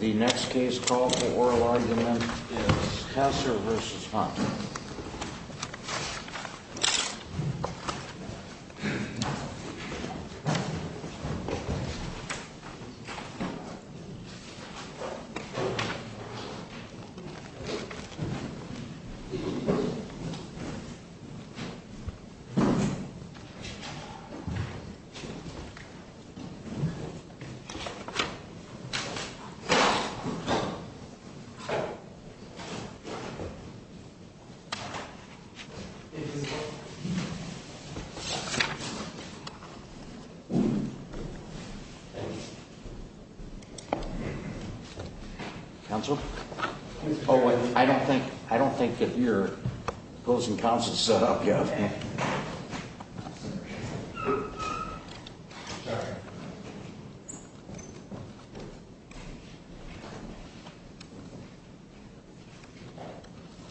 The next case called for oral argument is Heser v. Hunt. Counsel? I don't think I don't think that you're opposing counsel set up.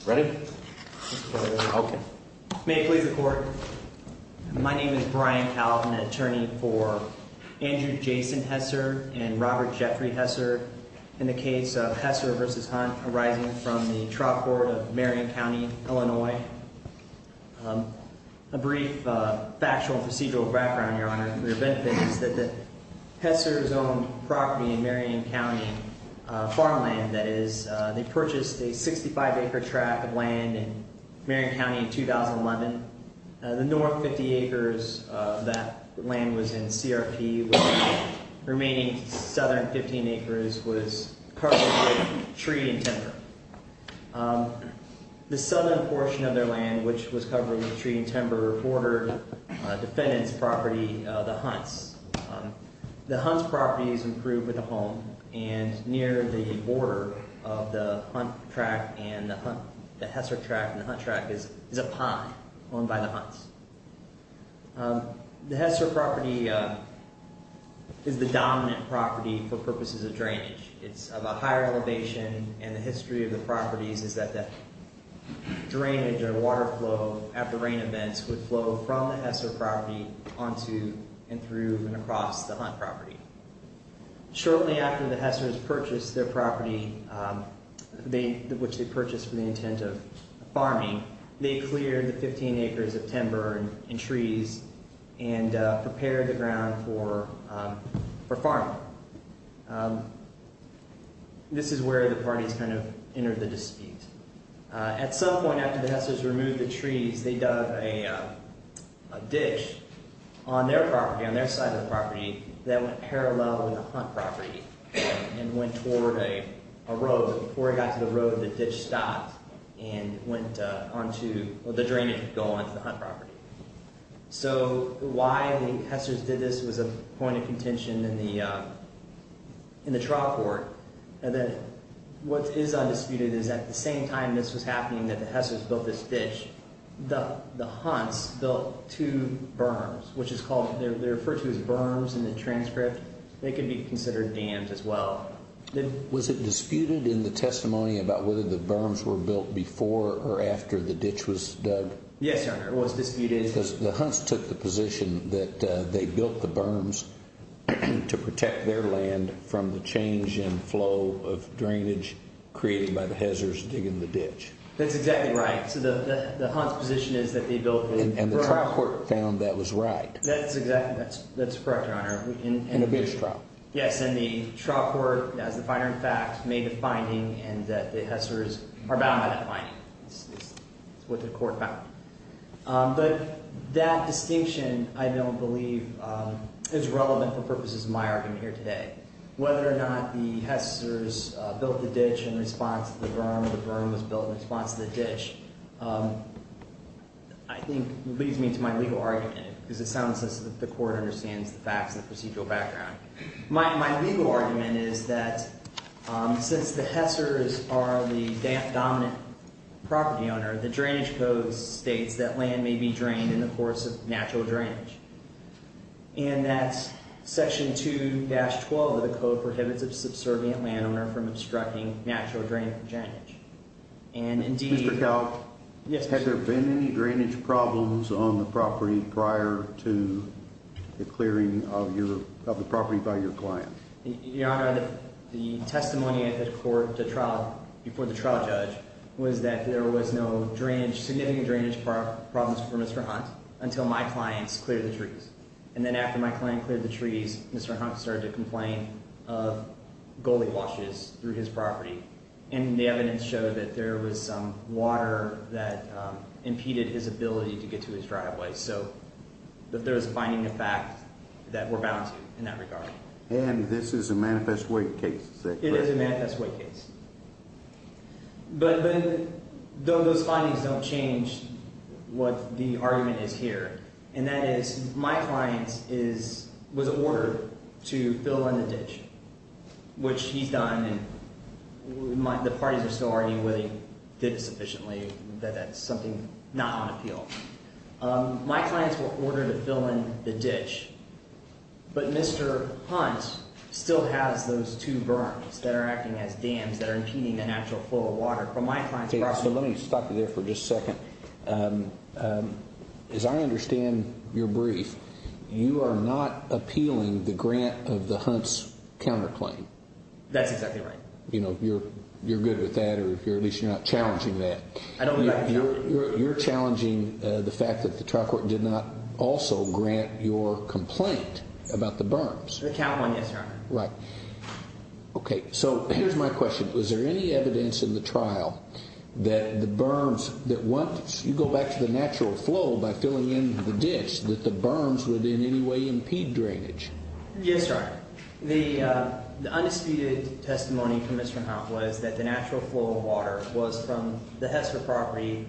Ready? Okay. May it please the court. My name is Brian Calvin, attorney for Andrew Jason Heser and Robert Jeffrey Heser. In the case of Heser v. Hunt arising from the trial court of Marion County, Illinois. A brief factual procedural background, Your Honor. The benefit is that Heser's own property in Marion County, farmland that is, they purchased a 65-acre tract of land in Marion County in 2011. The north 50 acres of that land was in CRP. Remaining southern 15 acres was covered with tree and timber. The southern portion of their land, which was covered with tree and timber, bordered defendant's property, the Hunt's. The Hunt's property is improved with a home and near the border of the Hunt tract and the Heser tract and the Hunt tract is a pond owned by the Hunt's. The Heser property is the dominant property for purposes of drainage. It's of a higher elevation and the history of the properties is that the drainage or water flow after rain events would flow from the Heser property onto and through and across the Hunt property. Shortly after the Hesers purchased their property, which they purchased for the intent of farming, they cleared the 15 acres of timber and trees and prepared the ground for farming. This is where the parties kind of entered the dispute. At some point after the Hesers removed the trees, they dug a ditch on their property, on their side of the property, that went parallel with the Hunt property and went toward a road. Before it got to the road, the ditch stopped and went onto, the drainage would go onto the Hunt property. So why the Hesers did this was a point of contention in the trial court. And then what is undisputed is at the same time this was happening, that the Hesers built this ditch, the Hunts built two berms, which is called, they're referred to as berms in the transcript. They can be considered dams as well. Was it disputed in the testimony about whether the berms were built before or after the ditch was dug? Yes, Your Honor, it was disputed. Because the Hunts took the position that they built the berms to protect their land from the change in flow of drainage created by the Hesers digging the ditch. That's exactly right. So the Hunts' position is that they built the berms. And the trial court found that was right. That's exactly right. That's correct, Your Honor. And it was a trial. Yes, and the trial court, as the finer in fact, made a finding and that the Hesers are bound by that finding. It's what the court found. But that distinction, I don't believe, is relevant for purposes of my argument here today. Whether or not the Hesers built the ditch in response to the berm, the berm was built in response to the ditch, I think leads me to my legal argument. Because it sounds as if the court understands the facts and the procedural background. My legal argument is that since the Hesers are the dominant property owner, the drainage code states that land may be drained in the course of natural drainage. And that Section 2-12 of the code prohibits a subservient landowner from obstructing natural drainage. Mr. Kalk? Yes, Mr. Chief. Has there been any drainage problems on the property prior to the clearing of the property by your client? Your Honor, the testimony at the court before the trial judge was that there was no significant drainage problems for Mr. Hunt until my clients cleared the trees. And then after my client cleared the trees, Mr. Hunt started to complain of gully washes through his property. And the evidence showed that there was some water that impeded his ability to get to his driveway. So there was a finding of fact that we're bound to in that regard. And this is a manifest wake case? It is a manifest wake case. But those findings don't change what the argument is here. And that is my client was ordered to fill in the ditch, which he's done and the parties are still arguing whether he did it sufficiently, that that's something not on appeal. My clients were ordered to fill in the ditch, but Mr. Hunt still has those two berms that are acting as dams that are impeding the natural flow of water. So let me stop you there for just a second. As I understand your brief, you are not appealing the grant of the Hunt's counterclaim. That's exactly right. You know, you're good with that, or at least you're not challenging that. I don't think I'm challenging it. You're challenging the fact that the trial court did not also grant your complaint about the berms. The count one, yes, Your Honor. Right. Okay. So here's my question. Was there any evidence in the trial that the berms that once you go back to the natural flow by filling in the ditch that the berms would in any way impede drainage? Yes, Your Honor. The undisputed testimony from Mr. Hunt was that the natural flow of water was from the Hester property,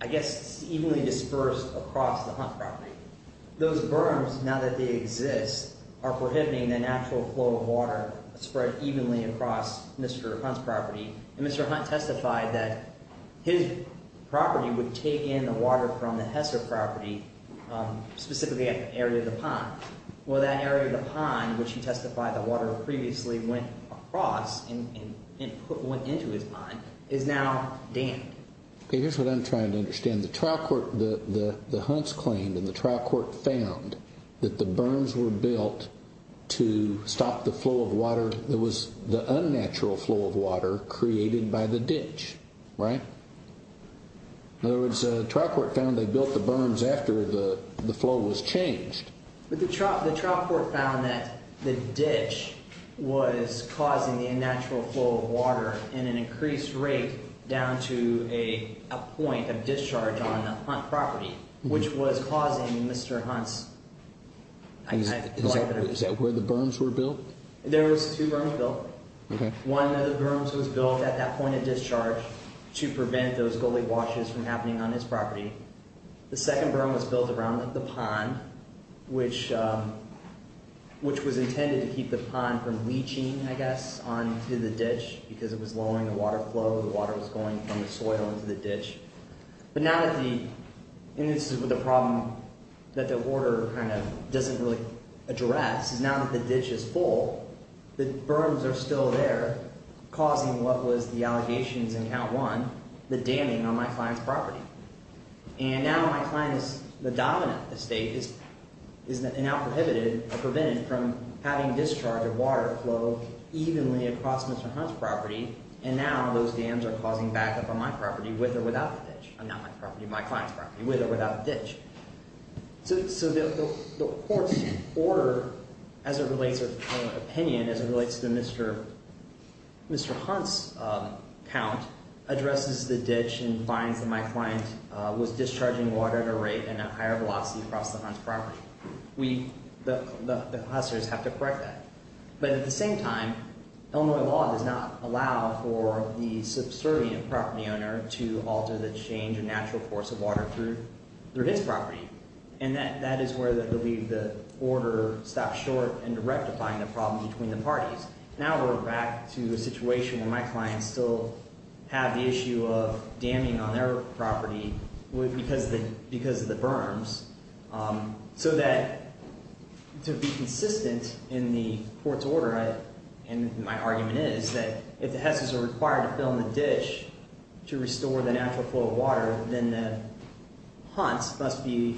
I guess evenly dispersed across the Hunt property. Those berms, now that they exist, are prohibiting the natural flow of water spread evenly across Mr. Hunt's property. And Mr. Hunt testified that his property would take in the water from the Hester property, specifically at the area of the pond. Well, that area of the pond, which he testified the water previously went across and went into his pond, is now dammed. Okay, here's what I'm trying to understand. The Hunt's claim in the trial court found that the berms were built to stop the flow of water that was the unnatural flow of water created by the ditch, right? In other words, the trial court found they built the berms after the flow was changed. The trial court found that the ditch was causing the unnatural flow of water in an increased rate down to a point of discharge on the Hunt property, which was causing Mr. Hunt's... Is that where the berms were built? There was two berms built. Okay. One of the berms was built at that point of discharge to prevent those gully washes from happening on his property. The second berm was built around the pond, which was intended to keep the pond from leaching, I guess, onto the ditch because it was lowering the water flow. The water was going from the soil into the ditch. But now that the... And this is where the problem that the order kind of doesn't really address is now that the ditch is full, the berms are still there, causing what was the allegations in count one, the damming on my client's property. And now my client is... The dominant estate is now prohibited or prevented from having discharge of water flow evenly across Mr. Hunt's property. And now those dams are causing backup on my property with or without the ditch. Not my property, my client's property, with or without the ditch. So the court's order as it relates or opinion as it relates to Mr. Hunt's count addresses the ditch and finds that my client was discharging water at a rate and at higher velocity across the Hunt's property. We, the officers, have to correct that. But at the same time, Illinois law does not allow for the subservient property owner to alter the change in natural course of water through his property. And that is where I believe the order stopped short in rectifying the problem between the parties. Now we're back to a situation where my clients still have the issue of damming on their property because of the berms. So that to be consistent in the court's order, and my argument is that if the Hesses are required to fill in the ditch to restore the natural flow of water, then Hunt must be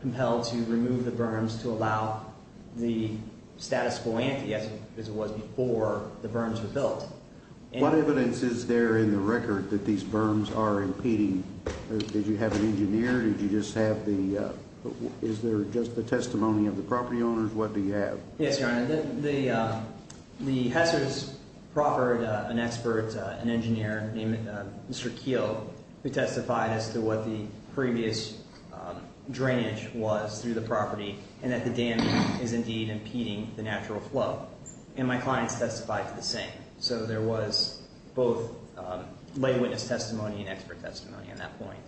compelled to remove the berms to allow the status quo ante as it was before the berms were built. What evidence is there in the record that these berms are impeding? Did you have an engineer? Did you just have the – is there just the testimony of the property owners? What do you have? Yes, Your Honor. The Hesses proffered an expert, an engineer named Mr. Keel, who testified as to what the previous drainage was through the property and that the dam is indeed impeding the natural flow. And my clients testified to the same. So there was both lay witness testimony and expert testimony on that point.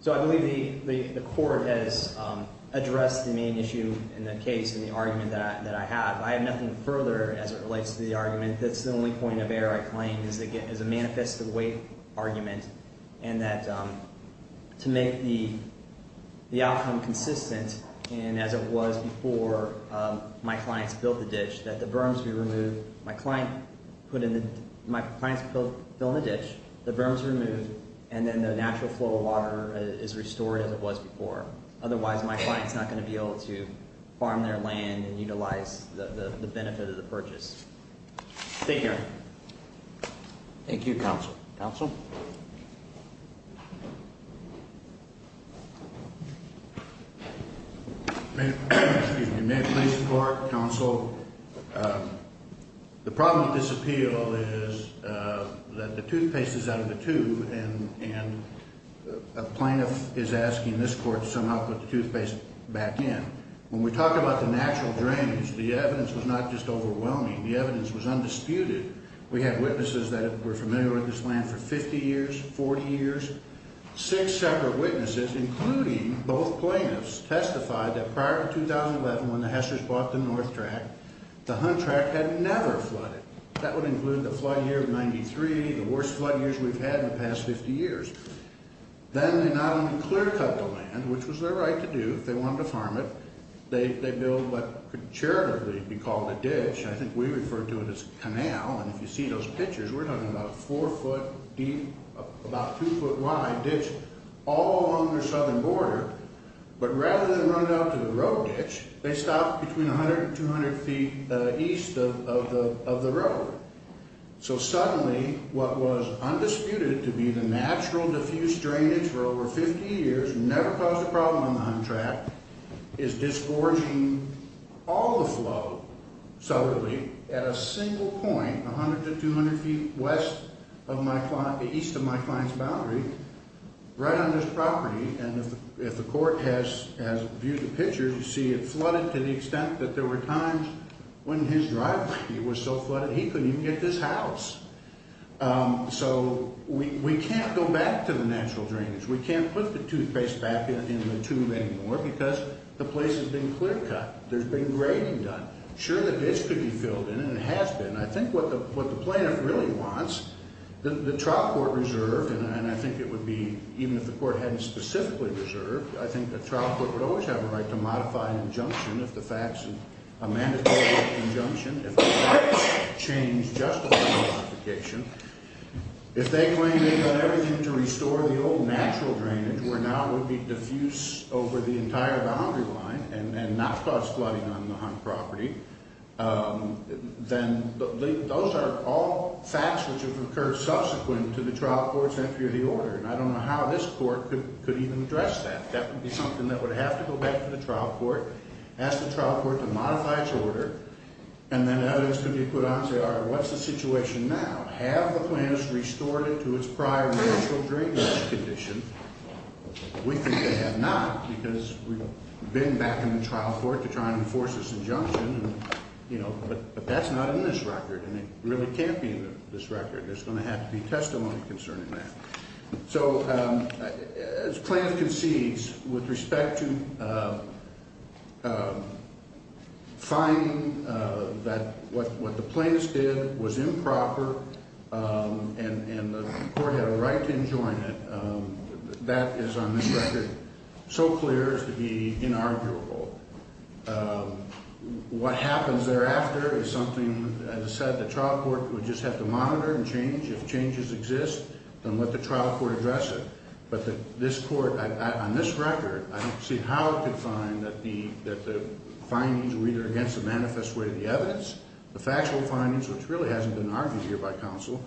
So I believe the court has addressed the main issue in the case and the argument that I have. I have nothing further as it relates to the argument. That's the only point of error I claim is a manifest of weight argument and that to make the outcome consistent and as it was before my clients built the ditch, that the berms be removed. My client put in the – my clients fill in the ditch, the berms are removed, and then the natural flow of water is restored as it was before. Otherwise, my client is not going to be able to farm their land and utilize the benefit of the purchase. Thank you, Your Honor. Thank you, Counsel. Counsel? May I please report, Counsel? The problem with this appeal is that the toothpaste is out of the tube and a plaintiff is asking this court to somehow put the toothpaste back in. When we talk about the natural drains, the evidence was not just overwhelming. The evidence was undisputed. We had witnesses that were familiar with this land for 50 years, 40 years. Six separate witnesses, including both plaintiffs, testified that prior to 2011 when the Hesters bought the North Track, the Hunt Track had never flooded. That would include the flood year of 93, the worst flood years we've had in the past 50 years. Then they not only clear-cut the land, which was their right to do if they wanted to farm it, they built what could charitably be called a ditch. I think we refer to it as a canal, and if you see those pictures, we're talking about a four-foot deep, about two-foot wide ditch all along their southern border. But rather than run it out to the road ditch, they stopped between 100 and 200 feet east of the road. So suddenly what was undisputed to be the natural, diffuse drainage for over 50 years, never caused a problem on the Hunt Track, is disgorging all the flow southerly at a single point, 100 to 200 feet west of my client, east of my client's boundary, right on this property. And if the court has viewed the pictures, you see it flooded to the extent that there were times when his driveway was so flooded he couldn't even get this house. So we can't go back to the natural drainage. We can't put the toothpaste back in the tube anymore because the place has been clear-cut. There's been grading done. Sure, the ditch could be filled in, and it has been. And I think what the plaintiff really wants, the trial court reserved, and I think it would be, even if the court hadn't specifically reserved, I think the trial court would always have a right to modify an injunction if the fact is a mandatory injunction, if the facts change justifying the modification. If they claim they've done everything to restore the old natural drainage where now it would be diffuse over the entire boundary line and not cause flooding on the Hunt property, then those are all facts which have occurred subsequent to the trial court's entry of the order, and I don't know how this court could even address that. That would be something that would have to go back to the trial court, ask the trial court to modify its order, and then evidence could be put on to say, all right, what's the situation now? Have the plaintiffs restored it to its prior natural drainage condition? We think they have not because we've been back in the trial court to try and enforce this injunction, you know, but that's not in this record, and it really can't be in this record. There's going to have to be testimony concerning that. So as plaintiff concedes with respect to finding that what the plaintiffs did was improper and the court had a right to enjoin it, that is on this record so clear as to be inarguable. What happens thereafter is something, as I said, the trial court would just have to monitor and change. If changes exist, then let the trial court address it. But this court, on this record, I don't see how it could find that the findings were either against the manifest way of the evidence, the factual findings, which really hasn't been argued here by counsel,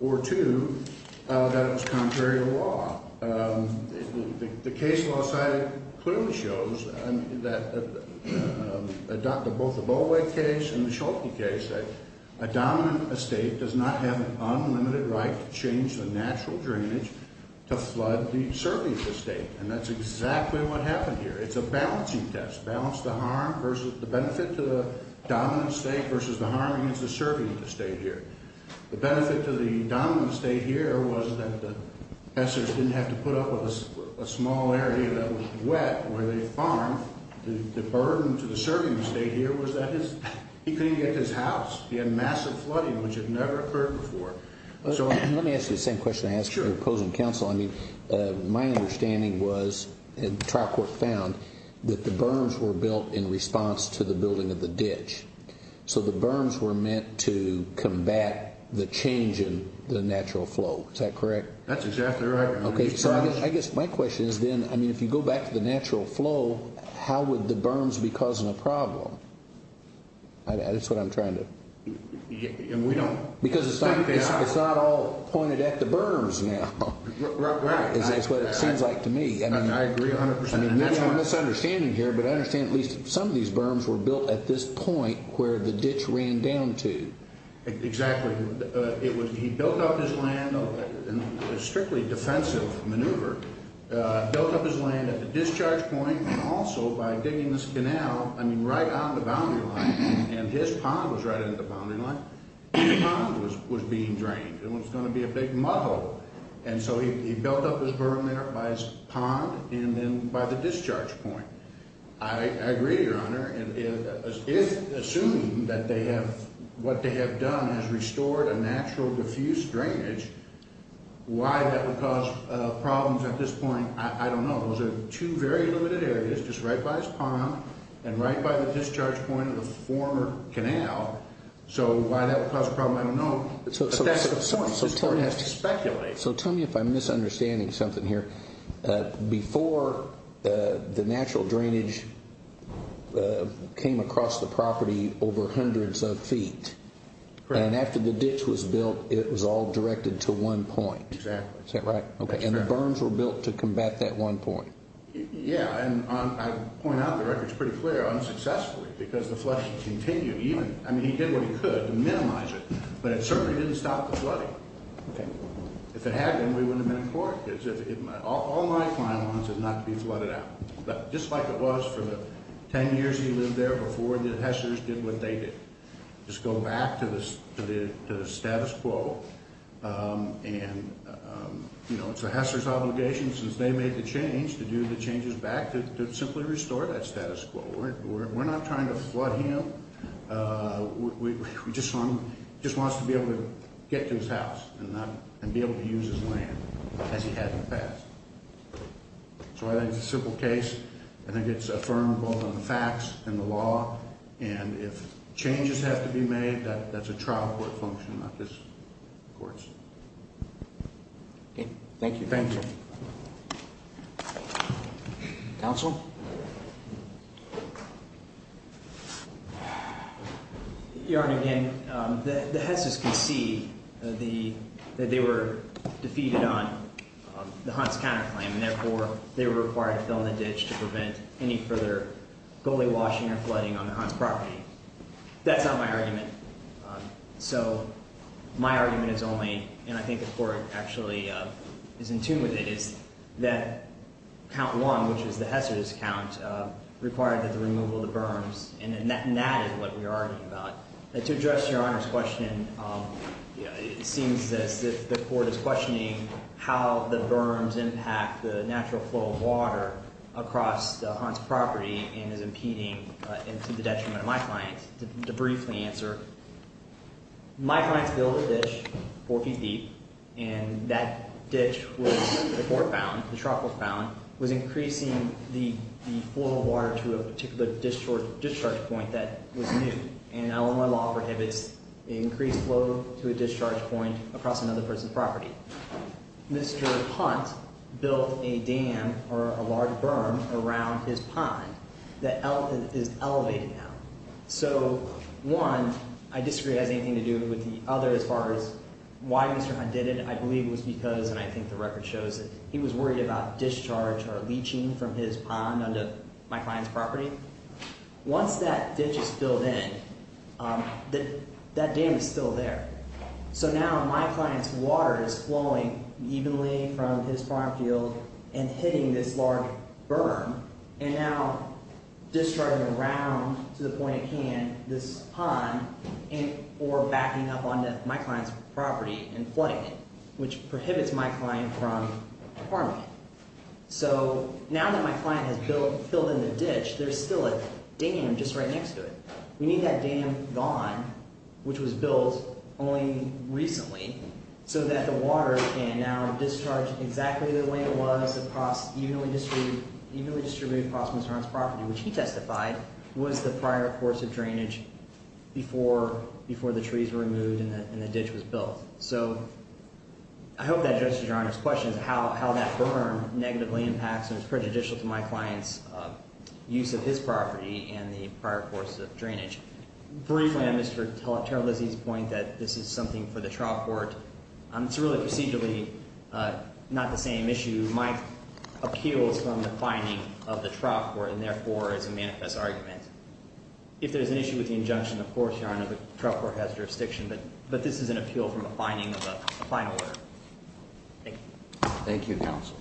or two, that it was contrary to law. The case law side clearly shows that both the Bollweg case and the Schulte case, that a dominant estate does not have an unlimited right to change the natural drainage to flood the serving estate, and that's exactly what happened here. It's a balancing test, balance the harm versus the benefit to the dominant estate versus the harm against the serving estate here. The benefit to the dominant estate here was that the passers didn't have to put up with a small area that was wet where they farmed. The burden to the serving estate here was that he couldn't get to his house. He had massive flooding, which had never occurred before. Let me ask you the same question I asked your opposing counsel. I mean, my understanding was, and the trial court found, that the berms were built in response to the building of the ditch. So the berms were meant to combat the change in the natural flow. Is that correct? That's exactly right. Okay. So I guess my question is then, I mean, if you go back to the natural flow, how would the berms be causing a problem? That's what I'm trying to. And we don't. Because it's not all pointed at the berms now. Right. That's what it seems like to me. I agree 100%. I mean, maybe we're misunderstanding here, but I understand at least some of these berms were built at this point where the ditch ran down to. Exactly. He built up his land in a strictly defensive maneuver, built up his land at the discharge point, and also by digging this canal, I mean, right on the boundary line, and his pond was right at the boundary line, his pond was being drained. It was going to be a big muddle. And so he built up his berm there by his pond and then by the discharge point. I agree, Your Honor. If assumed that what they have done has restored a natural diffuse drainage, why that would cause problems at this point, I don't know. Those are two very limited areas, just right by his pond and right by the discharge point of the former canal. So why that would cause a problem, I don't know. So tell me if I'm misunderstanding something here. Before, the natural drainage came across the property over hundreds of feet, and after the ditch was built, it was all directed to one point. Exactly. Is that right? Okay. And the berms were built to combat that one point. Yeah, and I point out the record's pretty clear, unsuccessfully, because the flushing continued. I mean, he did what he could to minimize it, but it certainly didn't stop the flooding. Okay. If it had been, we wouldn't have been in court. All my client wants is not to be flooded out. But just like it was for the ten years he lived there before the Hessers did what they did. Just go back to the status quo, and it's the Hessers' obligation since they made the change to do the changes back to simply restore that status quo. We're not trying to flood him. We just want him to be able to get to his house and be able to use his land as he had in the past. So I think it's a simple case. I think it's affirmed both on the facts and the law. And if changes have to be made, that's a trial court function, not just courts. Okay, thank you. Thank you. Thank you. Counsel? Your Honor, again, the Hessers concede that they were defeated on the Hunt's counterclaim, and therefore they were required to fill in the ditch to prevent any further gully washing or flooding on the Hunt's property. That's not my argument. So my argument is only, and I think the Court actually is in tune with it, is that count one, which is the Hessers' count, required the removal of the berms. And that is what we are arguing about. To address Your Honor's question, it seems as if the Court is questioning how the berms impact the natural flow of water across the Hunt's property and is impeding into the detriment of my clients. To briefly answer, my clients built a ditch four feet deep, and that ditch was before it was found, the trough was found, was increasing the flow of water to a particular discharge point that was new. And Illinois law prohibits increased flow to a discharge point across another person's property. Mr. Hunt built a dam or a large berm around his pond that is elevated now. So one, I disagree it has anything to do with the other as far as why Mr. Hunt did it. I believe it was because, and I think the record shows it, he was worried about discharge or leaching from his pond onto my client's property. Once that ditch is filled in, that dam is still there. So now my client's water is flowing evenly from his farm field and hitting this large berm and now discharging around to the point it can this pond or backing up onto my client's property and flooding it, which prohibits my client from farming it. So now that my client has filled in the ditch, there's still a dam just right next to it. We need that dam gone, which was built only recently, so that the water can now discharge exactly the way it was evenly distributed across Mr. Hunt's property, which he testified was the prior course of drainage before the trees were removed and the ditch was built. So I hope that addresses Your Honor's question as to how that berm negatively impacts and is prejudicial to my client's use of his property and the prior course of drainage. Briefly, I missed Mr. Terralizzi's point that this is something for the trial court. It's really procedurally not the same issue. My appeal is from the finding of the trial court and therefore is a manifest argument. If there's an issue with the injunction, of course, Your Honor, the trial court has jurisdiction, but this is an appeal from the finding of a final order. Thank you. Thank you, counsel.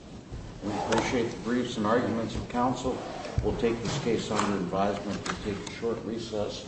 We appreciate the briefs and arguments of counsel. We'll take this case under advisement and take a short recess.